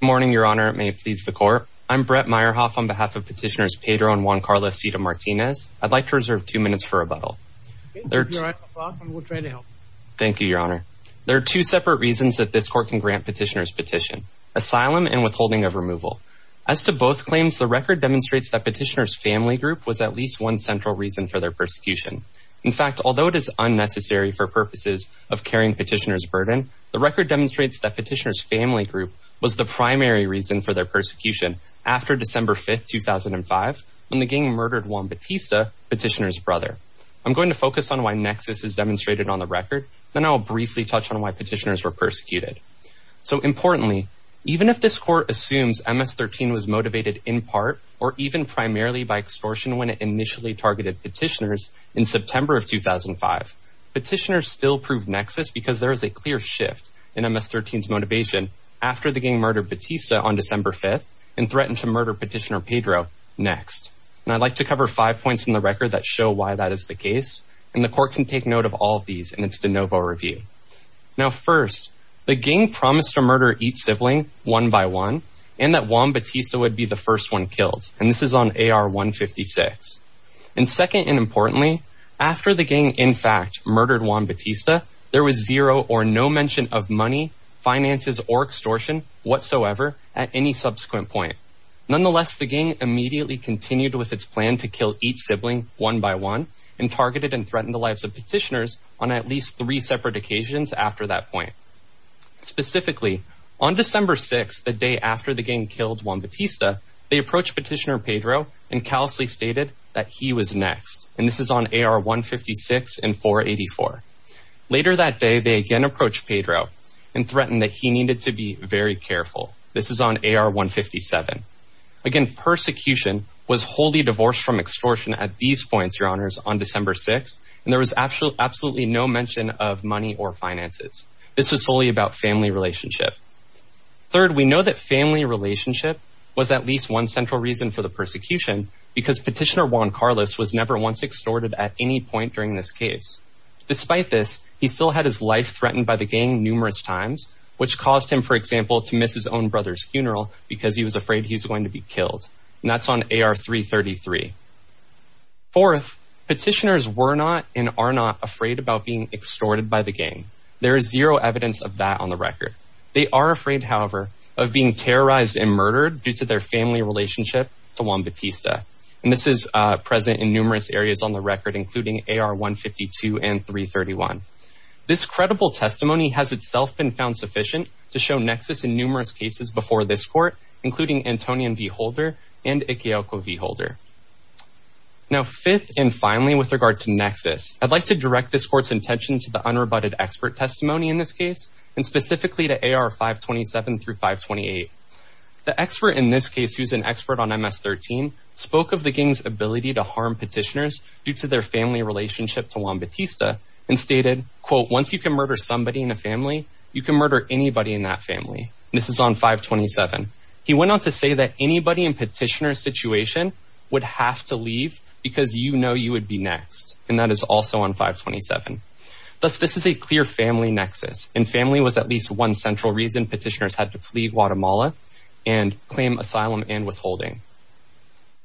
Good morning, your honor. May it please the court. I'm Brett Meyerhoff on behalf of petitioners Pedro and Juan Carlos Zita-Martinez. I'd like to reserve two minutes for rebuttal. Thank you, your honor. There are two separate reasons that this court can grant petitioners petition. Asylum and withholding of removal. As to both claims, the record demonstrates that petitioners family group was at least one central reason for their persecution. In fact, although it is unnecessary for purposes of carrying petitioners burden, the record demonstrates that petitioners family group was the primary reason for their persecution after December 5th, 2005, when the gang murdered Juan Batista, petitioner's brother. I'm going to focus on why nexus is demonstrated on the record, then I'll briefly touch on why petitioners were persecuted. So importantly, even if this court assumes MS-13 was motivated in part or even primarily by extortion when it initially targeted petitioners in September of motivation after the gang murdered Batista on December 5th and threatened to murder petitioner Pedro next. And I'd like to cover five points in the record that show why that is the case. And the court can take note of all of these in its de novo review. Now, first, the gang promised to murder each sibling one by one, and that Juan Batista would be the first one killed. And this is on AR 156. And second, and importantly, after the gang in fact murdered Juan Batista, there was zero or no mention of money, finances or extortion whatsoever at any subsequent point. Nonetheless, the gang immediately continued with its plan to kill each sibling one by one and targeted and threatened the lives of petitioners on at least three separate occasions after that point. Specifically, on December 6, the day after the gang killed Juan Batista, they approached petitioner Pedro and callously stated that he was next. And later that day, they again approached Pedro and threatened that he needed to be very careful. This is on AR 157. Again, persecution was wholly divorced from extortion at these points, your honors, on December 6. And there was absolutely no mention of money or finances. This was solely about family relationship. Third, we know that family relationship was at least one central reason for the persecution because petitioner Juan Carlos was never once extorted at any point during this case. Despite this, he still had his life threatened by the gang numerous times, which caused him, for example, to miss his own brother's funeral because he was afraid he's going to be killed. And that's on AR 333. Fourth, petitioners were not and are not afraid about being extorted by the gang. There is zero evidence of that on the record. They are afraid, however, of being terrorized and murdered due to their family relationship to Juan Batista. And this is present in numerous areas on the record, including AR 152 and 331. This credible testimony has itself been found sufficient to show nexus in numerous cases before this court, including Antonin V. Holder and Ikeoko V. Holder. Now, fifth and finally, with regard to nexus, I'd like to direct this court's intention to the unrebutted expert testimony in this case, and specifically to AR 527 through 528. The expert in this case, who's an expert on MS-13, spoke of the gang's ability to harm petitioners due to their family relationship to Juan Batista and stated, quote, Once you can murder somebody in a family, you can murder anybody in that family. This is on 527. He went on to say that anybody in petitioner situation would have to leave because, you know, you would be next. And that is also on 527. Thus, this is a clear family nexus. And family was at least one central reason petitioners had to flee Guatemala and claim asylum and withholding.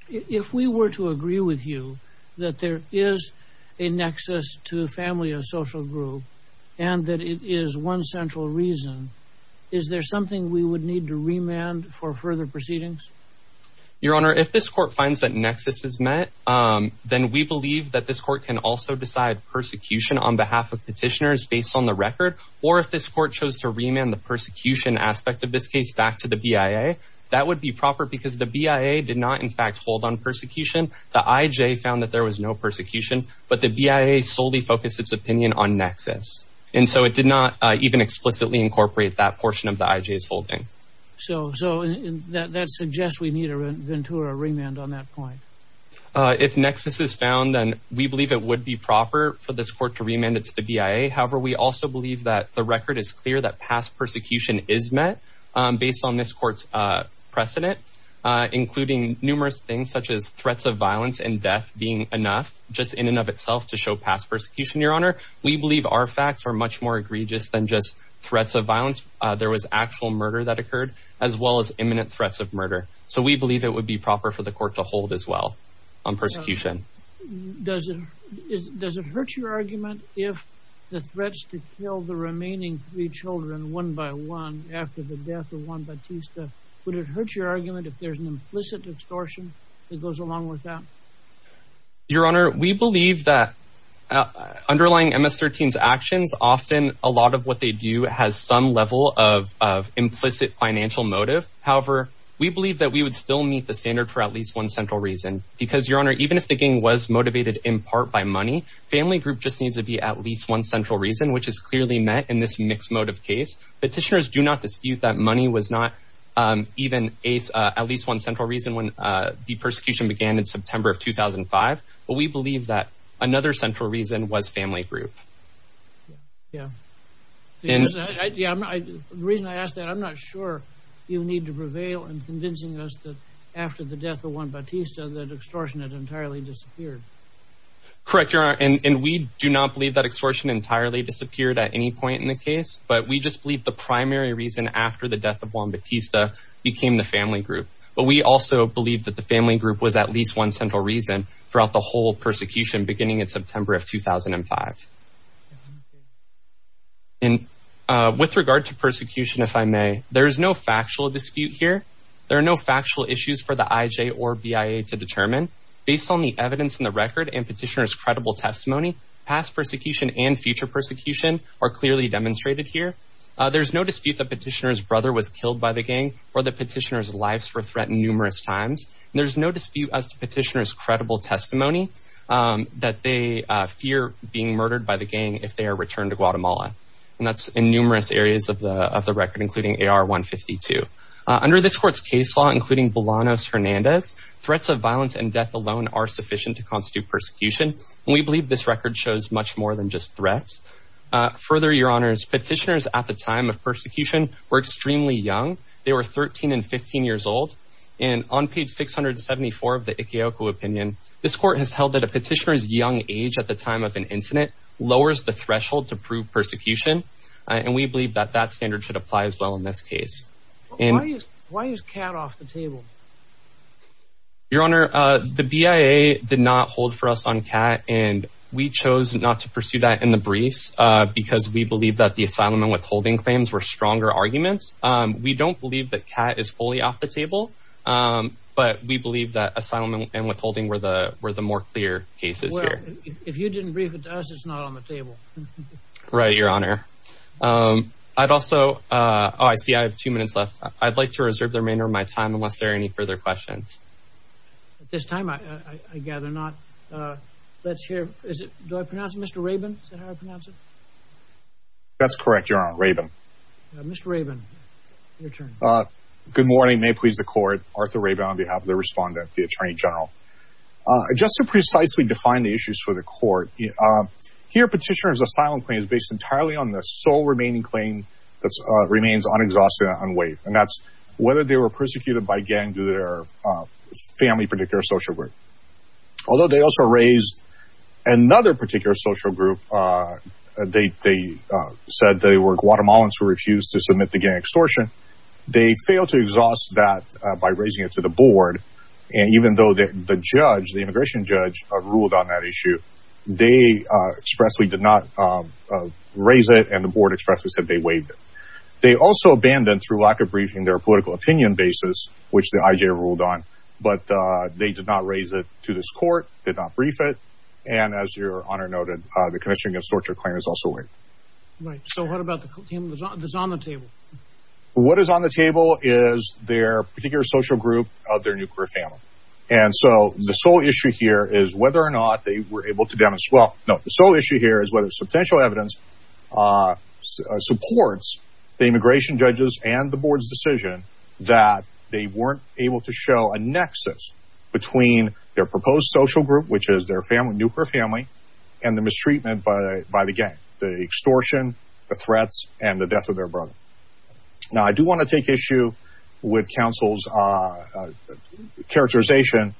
If we were to agree with you that there is a nexus to the family of social group and that it is one central reason, is there something we would need to remand for further proceedings? Your Honor, if this court finds that nexus is met, then we believe that this court can also decide persecution on behalf of petitioners based on the record. Or if this court chose to remand the persecution aspect of this case back to the BIA, that would be proper because the BIA did not, in fact, hold on persecution. The IJ found that there was no persecution, but the BIA solely focused its opinion on nexus. And so it did not even explicitly incorporate that portion of the IJ's holding. So that suggests we need a Ventura remand on that point. If nexus is found, then we believe it would be proper for this court to remand it to the BIA. However, we also believe that the record is clear that past persecution is met based on this court's precedent, including numerous things such as threats of violence and death being enough just in and of itself to show past persecution. Your Honor, we believe our facts are much more egregious than just threats of violence. There was actual murder that occurred as well as imminent threats of murder. So we believe it would be proper for the court to hold as well on persecution. Does it does it hurt your argument if the threats to kill the remaining three children one by one after the death of Juan Bautista, would it hurt your argument if there's an implicit extortion that goes along with that? Your Honor, we believe that underlying MS-13's actions, often a lot of what they do has some level of implicit financial motive. However, we believe that we would still meet the standard for at least one central reason. Because, Your Honor, even if the gang was motivated in part by money, family group just needs to be at least one central reason, which is clearly met in this mixed motive case. Petitioners do not dispute that money was not even at least one central reason when the persecution began in September of 2005. But we believe that another central reason was family group. Yeah. The reason I ask that, I'm not sure you need to prevail in convincing us that after the death of Juan Bautista, that extortion had entirely disappeared. Correct, Your Honor. And we do not believe that extortion entirely disappeared at any point in the case. But we just believe the primary reason after the death of Juan Bautista became the family group. But we also believe that the family group was at least one central reason throughout the whole persecution beginning in September of 2005. And with regard to persecution, if I may, there is no factual dispute here. There are no factual issues for the IJ or BIA to determine. Based on the evidence in the record and petitioner's credible testimony, past persecution and future persecution are clearly demonstrated here. There's no dispute that petitioner's brother was killed by the gang or that petitioner's lives were threatened numerous times. And there's no dispute as to petitioner's credible testimony that they fear being murdered by the gang if they are returned to Guatemala. And that's in numerous areas of the record, including AR 152. Under this court's case law, including Bolanos Hernandez, threats of violence and death alone are sufficient to constitute persecution. And we believe this record shows much more than just threats. Further, Your Honors, petitioners at the time of persecution were extremely young. They were 13 and 15 years old. And on page 674 of the Ikeoku opinion, this court has held that a petitioner's young age at the time of an incident lowers the threshold to prove persecution. And we believe that that standard should apply as well in this case. Why is Cat off the table? Your Honor, the BIA did not hold for us on Cat, and we chose not to pursue that in the briefs because we believe that the asylum and withholding claims were stronger arguments. We don't believe that Cat is fully off the table, but we believe that asylum and withholding were the more clear cases here. If you didn't brief it to us, it's not on the I have two minutes left. I'd like to reserve the remainder of my time unless there are any further questions. At this time, I gather not. Let's hear. Is it? Do I pronounce Mr. Rabin? Is that how I pronounce it? That's correct, Your Honor. Rabin. Mr. Rabin, your turn. Good morning. May it please the court. Arthur Rabin on behalf of the respondent, the Attorney General. Just to precisely define the issues for the court, here petitioner's asylum claim is based entirely on the sole remaining claim that remains unexhausted and unwaived, and that's whether they were persecuted by gang due to their family particular social group. Although they also raised another particular social group, they said they were Guatemalans who refused to submit the gang extortion. They failed to exhaust that by raising it to the board, and even though the judge, the immigration judge, ruled on that they waived it. They also abandoned, through lack of briefing, their political opinion basis, which the IJ ruled on, but they did not raise it to this court, did not brief it, and as Your Honor noted, the commission against torture claim is also waived. What is on the table is their particular social group of their nuclear family, and so the sole issue here is whether or not they were able to support the immigration judges and the board's decision that they weren't able to show a nexus between their proposed social group, which is their family, nuclear family, and the mistreatment by the gang, the extortion, the threats, and the death of their brother. Now, I do want to take issue with counsel's characterization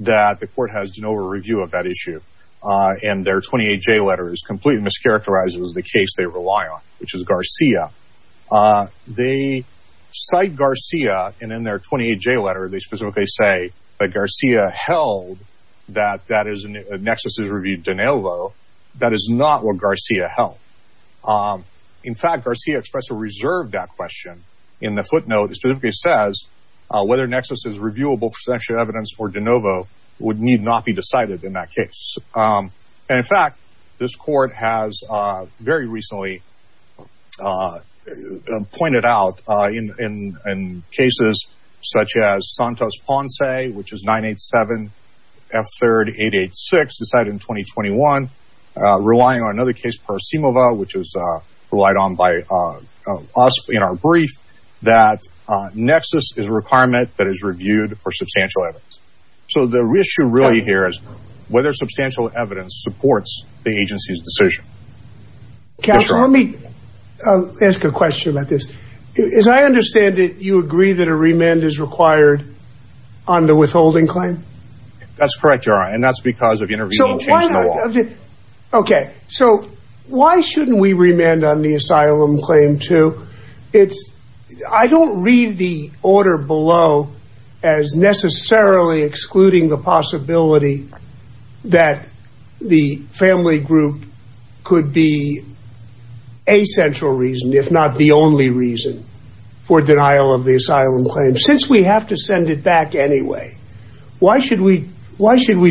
that the court has de novo review of that issue, and their 28J letter is completely mischaracterized as the case they rely on, which is Garcia. They cite Garcia, and in their 28J letter they specifically say that Garcia held that that is a nexus is reviewed de novo. That is not what Garcia held. In fact, Garcia expressed a reserve that question. In the footnote, it specifically says whether nexus is reviewable for sexual evidence or de novo would need not be decided in that case. In fact, this court has very recently pointed out in cases such as Santos Ponce, which is 987 F3 886, decided in 2021, relying on another case, Parasimova, which was relied on by us in our brief, that nexus is a requirement that is reviewed for substantial evidence. So the issue really here is whether substantial evidence supports the agency's decision. Counselor, let me ask a question about this. As I understand it, you agree that a remand is required on the withholding claim? That's correct, Your Honor, and that's because of intervening change in the law. Okay, so why shouldn't we remand on the asylum claim too? I don't read the order below as necessarily excluding the possibility that the family group could be a central reason, if not the only reason, for denial of the asylum claim, since we have to send it back anyway. Why should we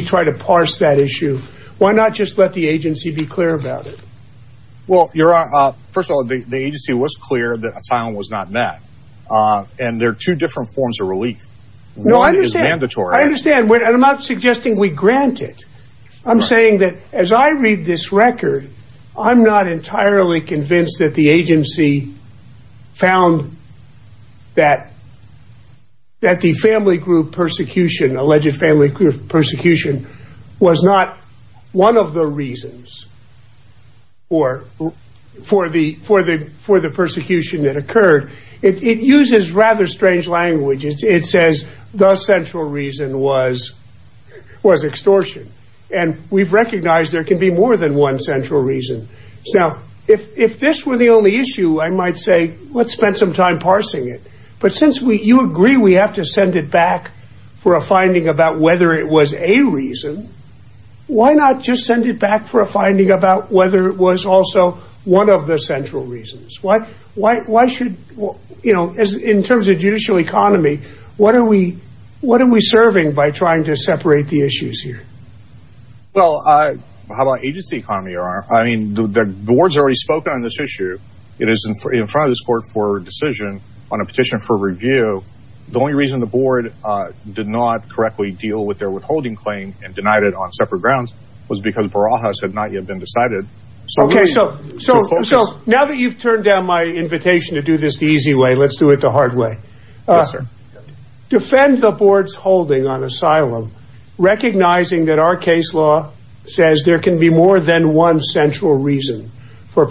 try to parse that issue? Why not just let the agency be clear about it? Well, Your Honor, first of all, the agency was clear that asylum was not a remand, and there are two different forms of relief. One is mandatory. I understand, and I'm not suggesting we grant it. I'm saying that as I read this record, I'm not entirely convinced that the agency found that the family group persecution, alleged family group persecution, was not one of the reasons for the persecution that occurred. It uses rather strange language. It says the central reason was extortion, and we've recognized there can be more than one central reason. So if this were the only issue, I might say, let's spend some time parsing it. But since you agree we have to send it back for a finding about whether it was a reason, why not just send it back for a finding about whether it was also one of the central reasons? Why should, in terms of judicial economy, what are we serving by trying to separate the issues here? Well, how about agency economy, Your Honor? I mean, the board's already spoken on this issue. It is in front of this court for a decision on a reason the board did not correctly deal with their withholding claim and denied it on separate grounds was because Barajas had not yet been decided. So now that you've turned down my invitation to do this the easy way, let's do it the hard way. Defend the board's holding on asylum, recognizing that our case law says there can be more than one central reason for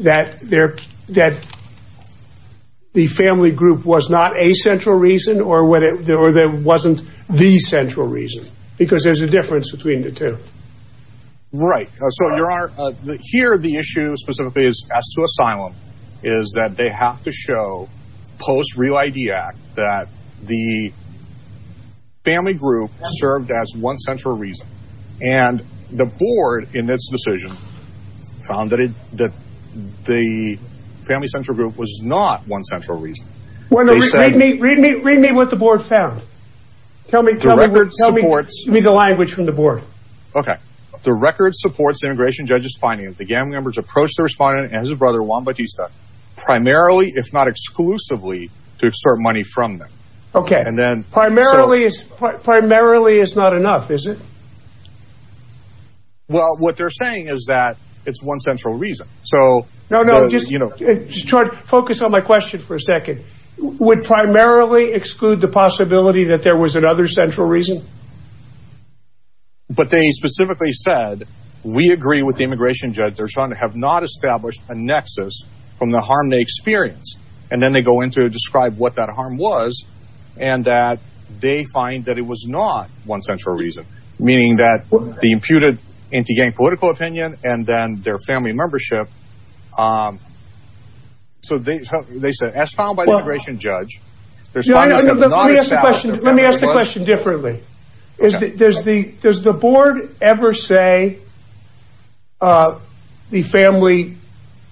that the family group was not a central reason or there wasn't the central reason because there's a difference between the two. Right. So, Your Honor, here the issue specifically is as to asylum is that they have to show post Real ID Act that the family group served as one central reason. And the board in this decision found that the family central group was not one central reason. Read me what the board found. Tell me the language from the board. Okay. The record supports immigration judges finding that the gang members approached the respondent and his brother, Juan Bautista, primarily, if not exclusively, to extort money from them. Okay. Primarily is not enough, is it? Well, what they're saying is that it's one central reason. So, you know, just focus on my question for a second would primarily exclude the possibility that there was another central reason. But they specifically said, we agree with the immigration judge. They're trying to have not established a nexus from the harm they experienced. And then they go in to describe what that harm was and that they find that it was not one central reason, meaning that the imputed anti-gang political opinion and then their family membership. So they said as found by the immigration judge, there's not a question. Let me ask the question differently. Does the does the board ever say the family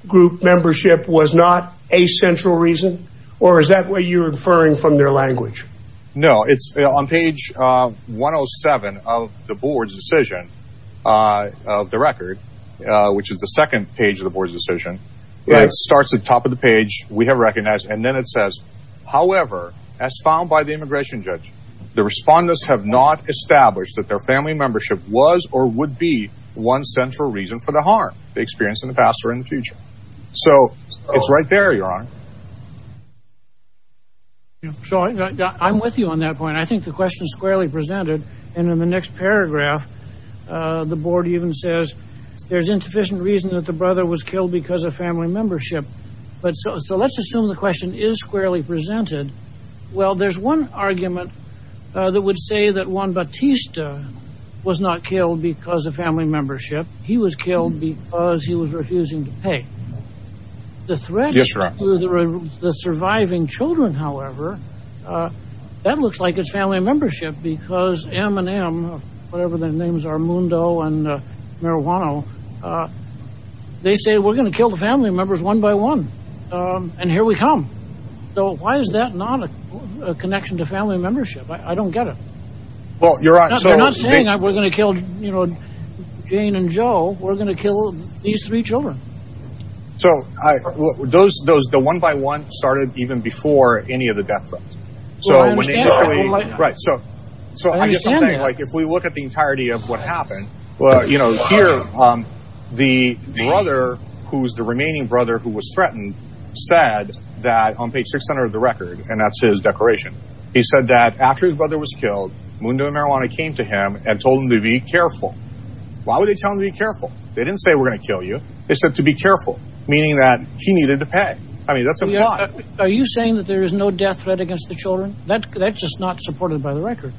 group membership was not a central reason? Or is that what you're inferring from their language? No, it's on page 107 of the board's decision, the record, which is the second page of the board's decision. It starts at the top of the page we have recognized. And then it says, however, as found by the immigration judge, the respondents have not established that their family membership was or would be one central reason for the harm they experienced in the past or in the future. So it's right there, Your Honor. So I'm with you on that point. I think the question is squarely presented and in the next paragraph, the board even says there's insufficient reason that the brother was killed because of family membership. But so let's assume the question is squarely presented. Well, there's one argument that would say that Juan Batista was not killed because of family membership. He was killed because he was refusing to pay. The threat to the surviving children, however, that looks like it's family membership because M&M, whatever their names are, Mundo and Marijuana, they say we're going to kill the family members one by one. And here we come. So why is that not a connection to family membership? I don't get it. Well, you're not saying we're going to kill, you know, Jane and Joe. We're going to kill these three children. So those those the one by one started even before any of the death threats. So right. So so if we look at the entirety of what happened here, the brother who's the remaining brother who was threatened said that on page 600 of the record, and that's his declaration, he said that after his brother was killed, Mundo and Marijuana came to him and told him to be careful. Why would they tell him to be careful? They didn't say we're going to kill you. They said to be careful, meaning that he needed to pay. I mean, that's a lot. Are you saying that there is no death threat against the children? That's just not supported by the record.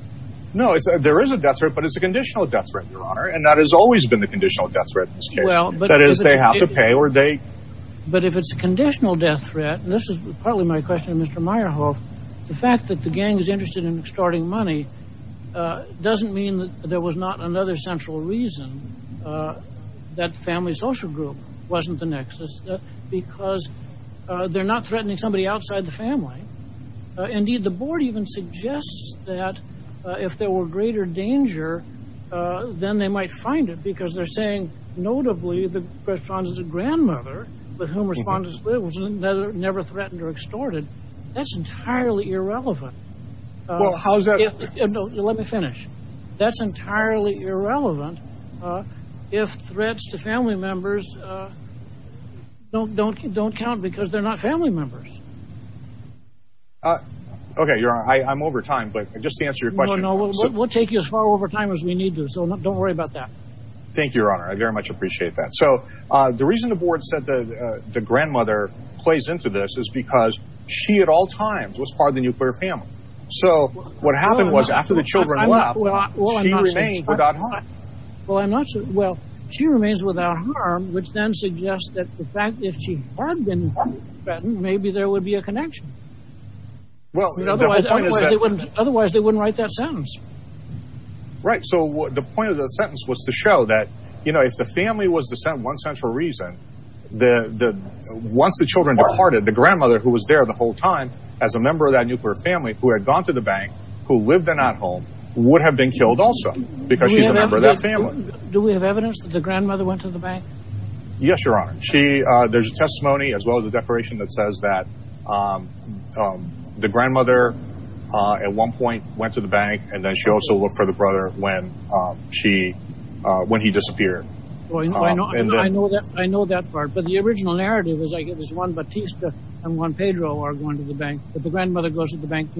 No, there is a death threat, but it's a conditional death threat, Your Honor. And that has always been the conditional death threat. That is, they have to pay or they. But if it's a conditional death threat, and this is partly my question, Mr. Meyerhoff, the fact that the gang is interested in extorting money doesn't mean that there was not another central reason that family social group wasn't the nexus because they're not threatening somebody outside the family. Indeed, the board even suggests that if there were greater danger, then they might find it because they're saying notably the response is a grandmother with whom respondents never threatened or extorted. That's entirely irrelevant. Well, how is that? Let me finish. That's entirely irrelevant. If threats to family members don't don't don't count because they're not family members. OK, you're right, I'm over time, but just to answer your question, we'll take you as far over time as we need to. So don't worry about that. Thank you, Your Honor. I very much appreciate that. So the reason the board said that the grandmother plays into this is because she at all times was part of the nuclear family. So what happened was after the children left, she remained without harm. Well, I'm not sure. Well, she remains without harm, which then suggests that the fact that she had been threatened, maybe there would be a connection. Well, otherwise they wouldn't otherwise they wouldn't write that sentence. Right, so the point of the sentence was to show that, you know, if the family was to send one central reason that once the children departed, the grandmother who was there the whole time as a member of that nuclear family who had gone to the bank, who lived in that home, would have been killed also because she's a member of that family. Do we have evidence that the grandmother went to the bank? Yes, Your Honor. She there's a testimony as well as a declaration that says that the grandmother at one point went to the bank and then she also looked for the brother when she when he disappeared. Well, I know that I know that I know that part. But the original narrative is like it was one Batista and one Pedro are going to the bank, but the grandmother goes to the bank.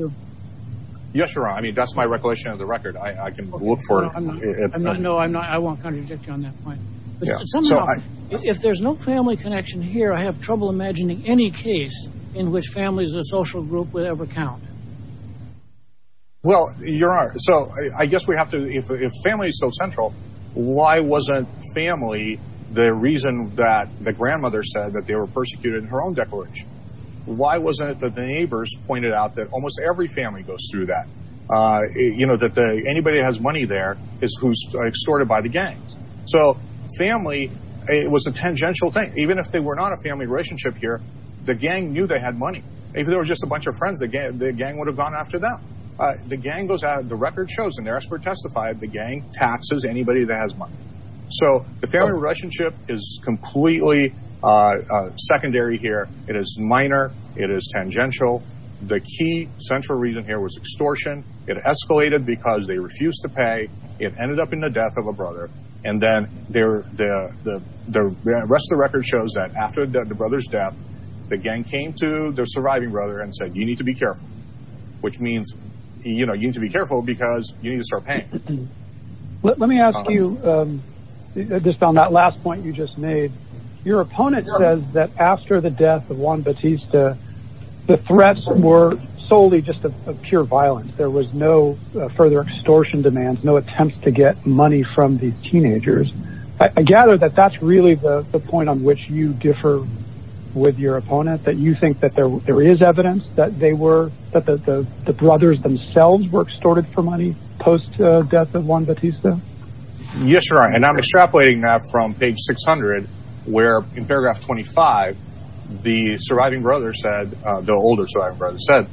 Yes, Your Honor. I mean, that's my recollection of the record. I can look for it. No, I'm not. I won't contradict you on that point. But somehow, if there's no family connection here, I have trouble imagining any case in which families or social group would ever count. Well, Your Honor, so I guess we have to if family is so central, why wasn't family the reason that the grandmother said that they were persecuted in her own declaration? Why wasn't it that the neighbors pointed out that almost every family goes through that, you know, that anybody who has money there is who's extorted by the gangs? So family, it was a tangential thing. Even if they were not a family relationship here, the gang knew they had money. If there was just a bunch of friends, again, the gang would have gone after them. The gang goes out. The record shows in their expert testified the gang taxes anybody that has money. So the family relationship is completely secondary here. It is minor. It is tangential. The key central reason here was extortion. It escalated because they refused to pay. It ended up in the death of a brother. And then the rest of the record shows that after the brother's death, the gang came to their surviving brother and said, you need to be careful, which means, you know, you need to be careful because you need to start paying. Let me ask you just on that last point you just made, your opponent says that after the death of Juan Batista, the threats were solely just of pure violence. There was no further extortion demands, no attempts to get money from these teenagers. I gather that that's really the point on which you differ with your opponent, that you think that there is evidence that they were that the brothers themselves were extorted for money post the death of Juan Batista? Yes, sir. And I'm extrapolating that from page 600, where in paragraph 25, the surviving brother said, the older brother said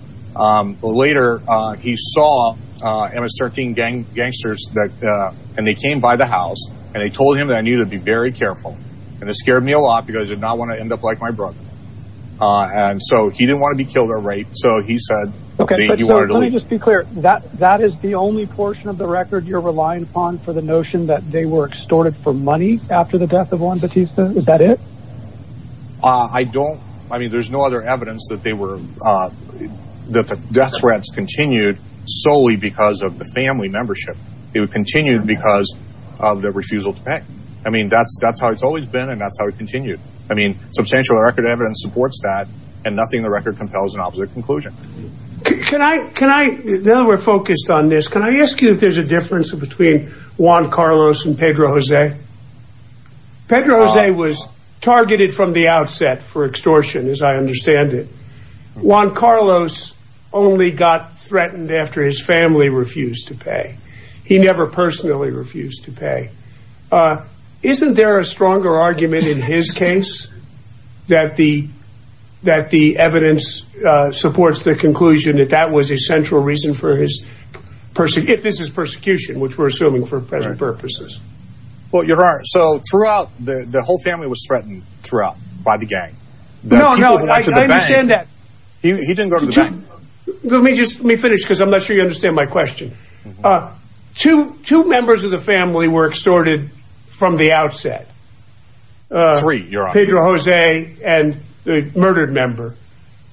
later he saw MS-13 gang gangsters that and they came by the house and they told him that I need to be very careful. And it scared me a lot because I did not want to end up like my brother. And so he didn't want to be killed or raped. So he said, OK, let me just be clear that that is the only portion of the record you're relying upon for the notion that they were extorted for money after the death of Juan Batista. Is that it? I don't I mean, there's no other evidence that they were the death threats continued solely because of the family membership. It would continue because of the refusal to pay. I mean, that's that's how it's always been. And that's how it continued. I mean, substantial record evidence supports that. And nothing in the record compels an opposite conclusion. Can I can I know we're focused on this. Can I ask you if there's a difference between Juan Carlos and Pedro Jose? Pedro Jose was targeted from the outset for extortion, as I understand it. Juan Carlos only got threatened after his family refused to pay. He never personally refused to pay. Isn't there a stronger argument in his case that the that the evidence supports the conclusion that that was a central reason for his person? If this is persecution, which we're assuming for present purposes. Well, you're right. So throughout the whole family was threatened throughout by the gang. No, no, I understand that. He didn't go to the bank. Let me just let me finish, because I'm not sure you understand my question. Two, two members of the family were extorted from the outset. Three, Pedro Jose and the murdered member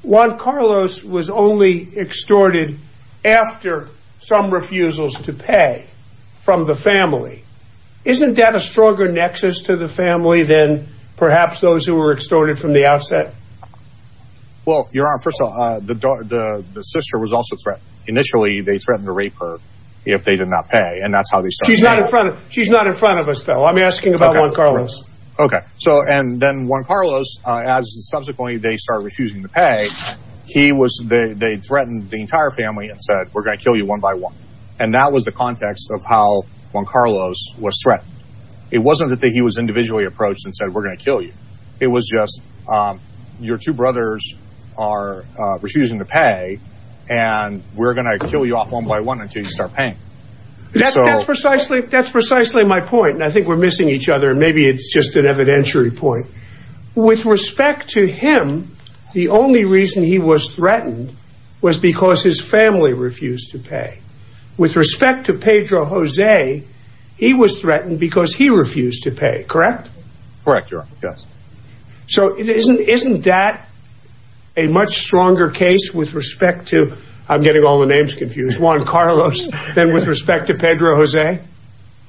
Juan Carlos was only extorted after some refusals to pay from the family. Isn't that a stronger nexus to the family than perhaps those who were extorted from the outset? Well, your honor, first of all, the the sister was also threatened. Initially, they threatened to rape her if they did not pay. And that's how they she's not in front of she's not in front of us, though. I'm asking about Juan Carlos. OK, so and then Juan Carlos, as subsequently they started refusing to pay. He was they threatened the entire family and said, we're going to kill you one by one. And that was the context of how Juan Carlos was threatened. It wasn't that he was individually approached and said, we're going to kill you. It was just your two brothers are refusing to pay and we're going to kill you off one by one until you start paying. That's precisely that's precisely my point. And I think we're missing each other. Maybe it's just an evidentiary point with respect to him. The only reason he was threatened was because his family refused to pay with respect to Pedro Jose. He was threatened because he refused to pay. Correct? Correct. Yes. So isn't isn't that a much stronger case with respect to I'm getting all the names confused, Juan Carlos, than with respect to Pedro Jose?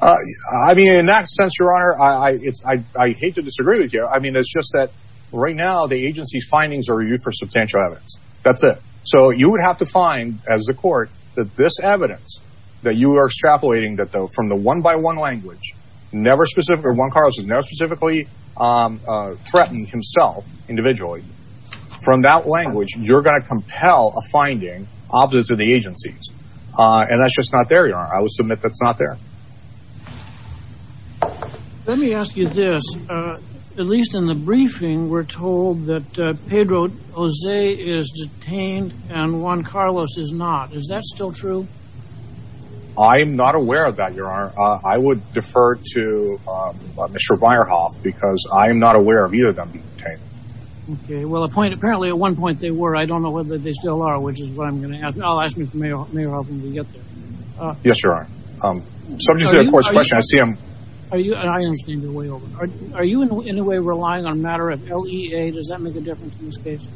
I mean, in that sense, your honor, I hate to disagree with you. I mean, it's just that right now the agency's findings are reviewed for substantial evidence. That's it. So you would have to find as a court that this evidence that you are extrapolating that from the one by one language, never specifically Juan Carlos has never specifically threatened himself individually. From that language, you're going to compel a finding opposite of the agency's. And that's just not there. I will submit that's not there. Let me ask you this, at least in the briefing, we're told that Pedro Jose is detained and Juan Carlos is not. Is that still true? I'm not aware of that, your honor. I would defer to Mr. Beierhoff, because I'm not aware of either of them. OK, well, a point apparently at one point they were. I don't know whether they still are, which is what I'm going to ask. I'll ask me for mayoral help when we get there. Yes, your honor. So this is a court's question. I see him. Are you and I understand the way over. Are you in any way relying on a matter of LEA? Does that make a difference in this case?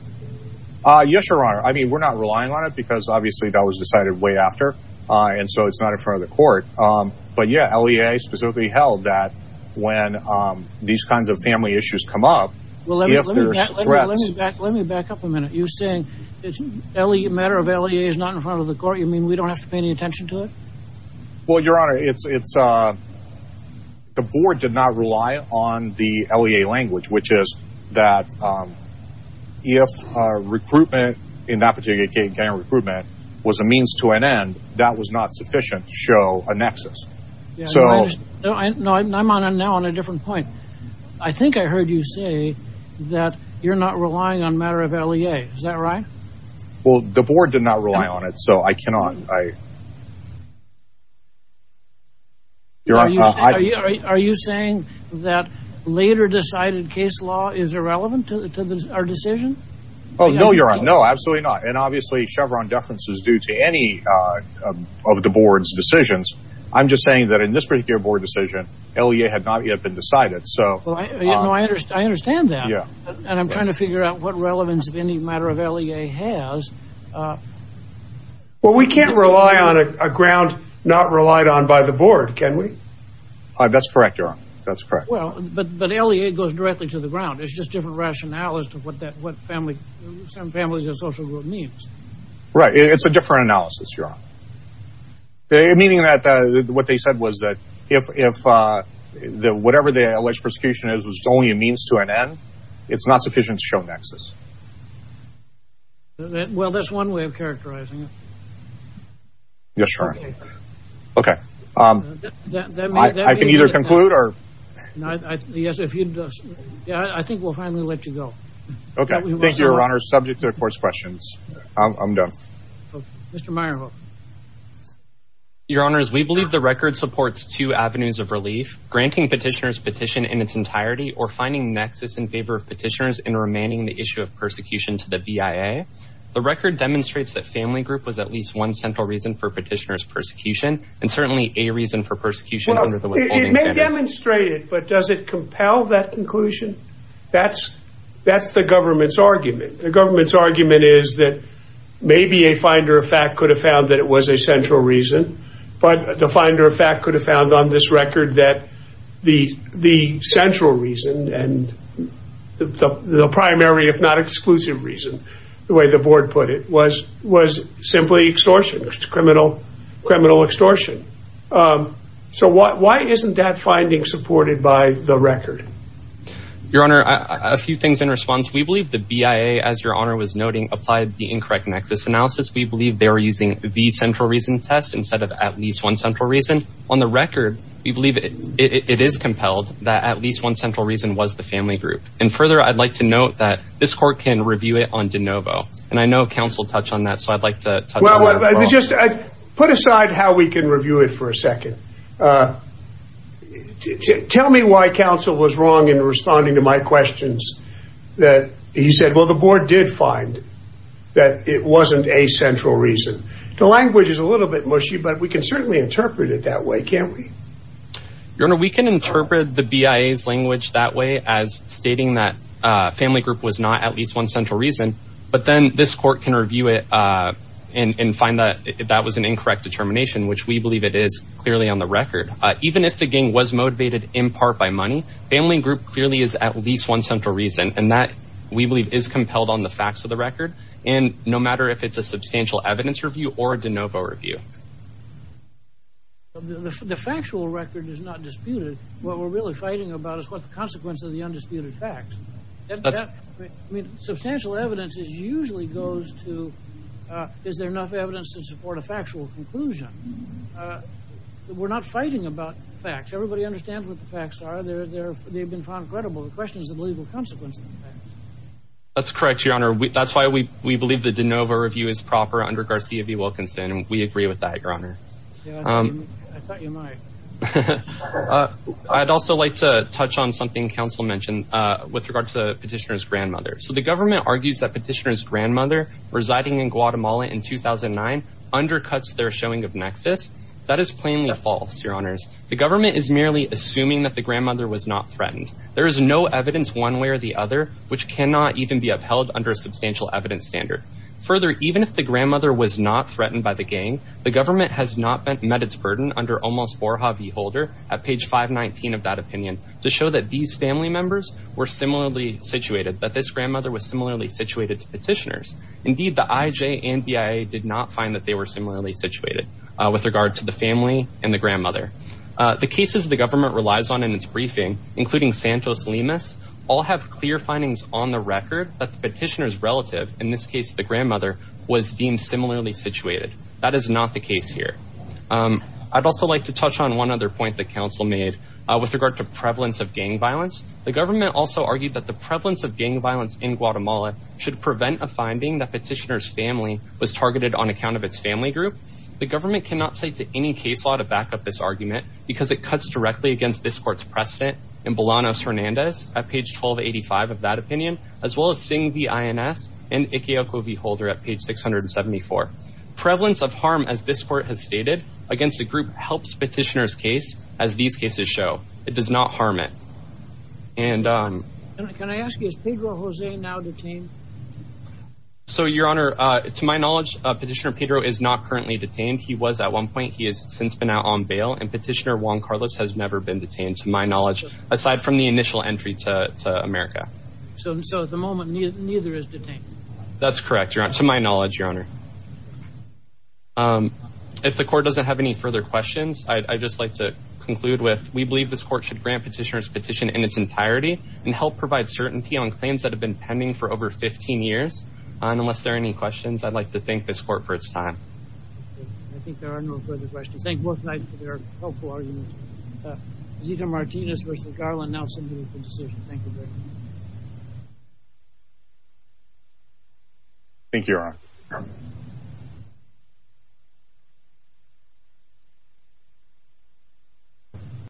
Yes, your honor. I mean, we're not relying on it because obviously that was decided way after. And so it's not in front of the court. But yeah, LEA specifically held that when these kinds of family issues come up. Well, let me back up a minute. You're saying it's a matter of LEA is not in front of the court. You mean we don't have to pay any attention to it? Well, your honor, it's the board did not rely on the LEA language, which is that if recruitment in that particular case, recruitment was a means to an end, that was not sufficient to show a nexus. So I know I'm on now on a different point. I think I heard you say that you're not relying on a matter of LEA. Is that right? Well, the board did not rely on it. So I cannot I. Your honor, are you saying that later decided case law is irrelevant to our decision? Oh, no, your honor. No, absolutely not. And obviously Chevron deference is due to any of the board's decisions. I'm just saying that in this particular board decision, LEA had not yet been decided. So I understand that. Yeah. And I'm trying to figure out what relevance of any matter of LEA has. Uh. Well, we can't rely on a ground not relied on by the board, can we? That's correct, your honor. That's correct. Well, but but LEA goes directly to the ground. It's just different rationale as to what that what family, some families, a social group means. Right. It's a different analysis, your honor. Meaning that what they said was that if if whatever the alleged prosecution is was only a means to an end, it's not sufficient to show nexus. Well, that's one way of characterizing it. Yes, sure. OK, I can either conclude or yes, if you do, I think we'll finally let you go. OK, thank you, your honor. Subject to the court's questions, I'm done, Mr. Meyerhoff. Your honors, we believe the record supports two avenues of relief, granting petitioners petition in its entirety or finding nexus in favor of petitioners in remanding the issue of persecution to the BIA. The record demonstrates that family group was at least one central reason for petitioners persecution and certainly a reason for persecution. It may demonstrate it, but does it compel that conclusion? That's that's the government's argument. The government's argument is that maybe a finder of fact could have found that it was a central reason. But the finder of fact could have found on this record that the the primary, if not exclusive reason, the way the board put it was was simply extortion, criminal extortion. So why isn't that finding supported by the record? Your honor, a few things in response. We believe the BIA, as your honor was noting, applied the incorrect nexus analysis. We believe they were using the central reason test instead of at least one central reason. On the record, we believe it is compelled that at least one central reason was the family group. And further, I'd like to note that this court can review it on DeNovo. And I know counsel touch on that. So I'd like to just put aside how we can review it for a second. Tell me why counsel was wrong in responding to my questions that he said, well, the board did find that it wasn't a central reason. The language is a little bit mushy, but we can certainly interpret it that way. Can we? Your honor, we can interpret the BIA's language that way as stating that family group was not at least one central reason. But then this court can review it and find that that was an incorrect determination, which we believe it is clearly on the record. Even if the gang was motivated in part by money, family group clearly is at least one central reason. And that we believe is compelled on the facts of the record. And no matter if it's a substantial evidence review or DeNovo review. The factual record is not disputed. What we're really fighting about is what the consequence of the undisputed facts. I mean, substantial evidence is usually goes to is there enough evidence to support a factual conclusion? We're not fighting about facts. Everybody understands what the facts are. They're there. They've been found credible. The question is the legal consequence. That's correct, your honor. That's why we we believe the DeNovo review is proper under Garcia v. Dyer, your honor. I thought you might. I'd also like to touch on something council mentioned with regard to the petitioner's grandmother. So the government argues that petitioner's grandmother residing in Guatemala in 2009 undercuts their showing of nexus. That is plainly false. Your honors, the government is merely assuming that the grandmother was not threatened. There is no evidence one way or the other, which cannot even be upheld under a substantial evidence standard. Further, even if the grandmother was not threatened by the gang, the government has not met its burden under almost Borja v. Holder at page 519 of that opinion to show that these family members were similarly situated, that this grandmother was similarly situated to petitioners. Indeed, the IJ and BIA did not find that they were similarly situated with regard to the family and the grandmother. The cases the government relies on in its briefing, including Santos-Limas, all have clear findings on the record that the petitioner's relative, in this case, the grandmother was deemed similarly situated. That is not the case here. I'd also like to touch on one other point the council made with regard to prevalence of gang violence. The government also argued that the prevalence of gang violence in Guatemala should prevent a finding that petitioner's family was targeted on account of its family group. The government cannot say to any case law to back up this argument because it cuts directly against this court's precedent. And Bolanos-Hernandez at page 1285 of that opinion, as well as Singh v. INS and Ikeoko v. Holder at page 674. Prevalence of harm, as this court has stated, against a group helps petitioner's case. As these cases show, it does not harm it. And can I ask you, is Pedro Jose now detained? So, Your Honor, to my knowledge, Petitioner Pedro is not currently detained. He was at one point. He has since been out on bail and Petitioner Juan Carlos has never been detained, to my knowledge, aside from the initial entry to America. So at the moment, neither is detained. That's correct, Your Honor, to my knowledge, Your Honor. If the court doesn't have any further questions, I'd just like to conclude with, we believe this court should grant petitioner's petition in its entirety and help provide certainty on claims that have been pending for over 15 years. And unless there are any questions, I'd like to thank this court for its time. I think there are no further questions. Thank both sides for their helpful arguments. Zika Martinez v. Garland, now submitting the decision. Thank you, Your Honor.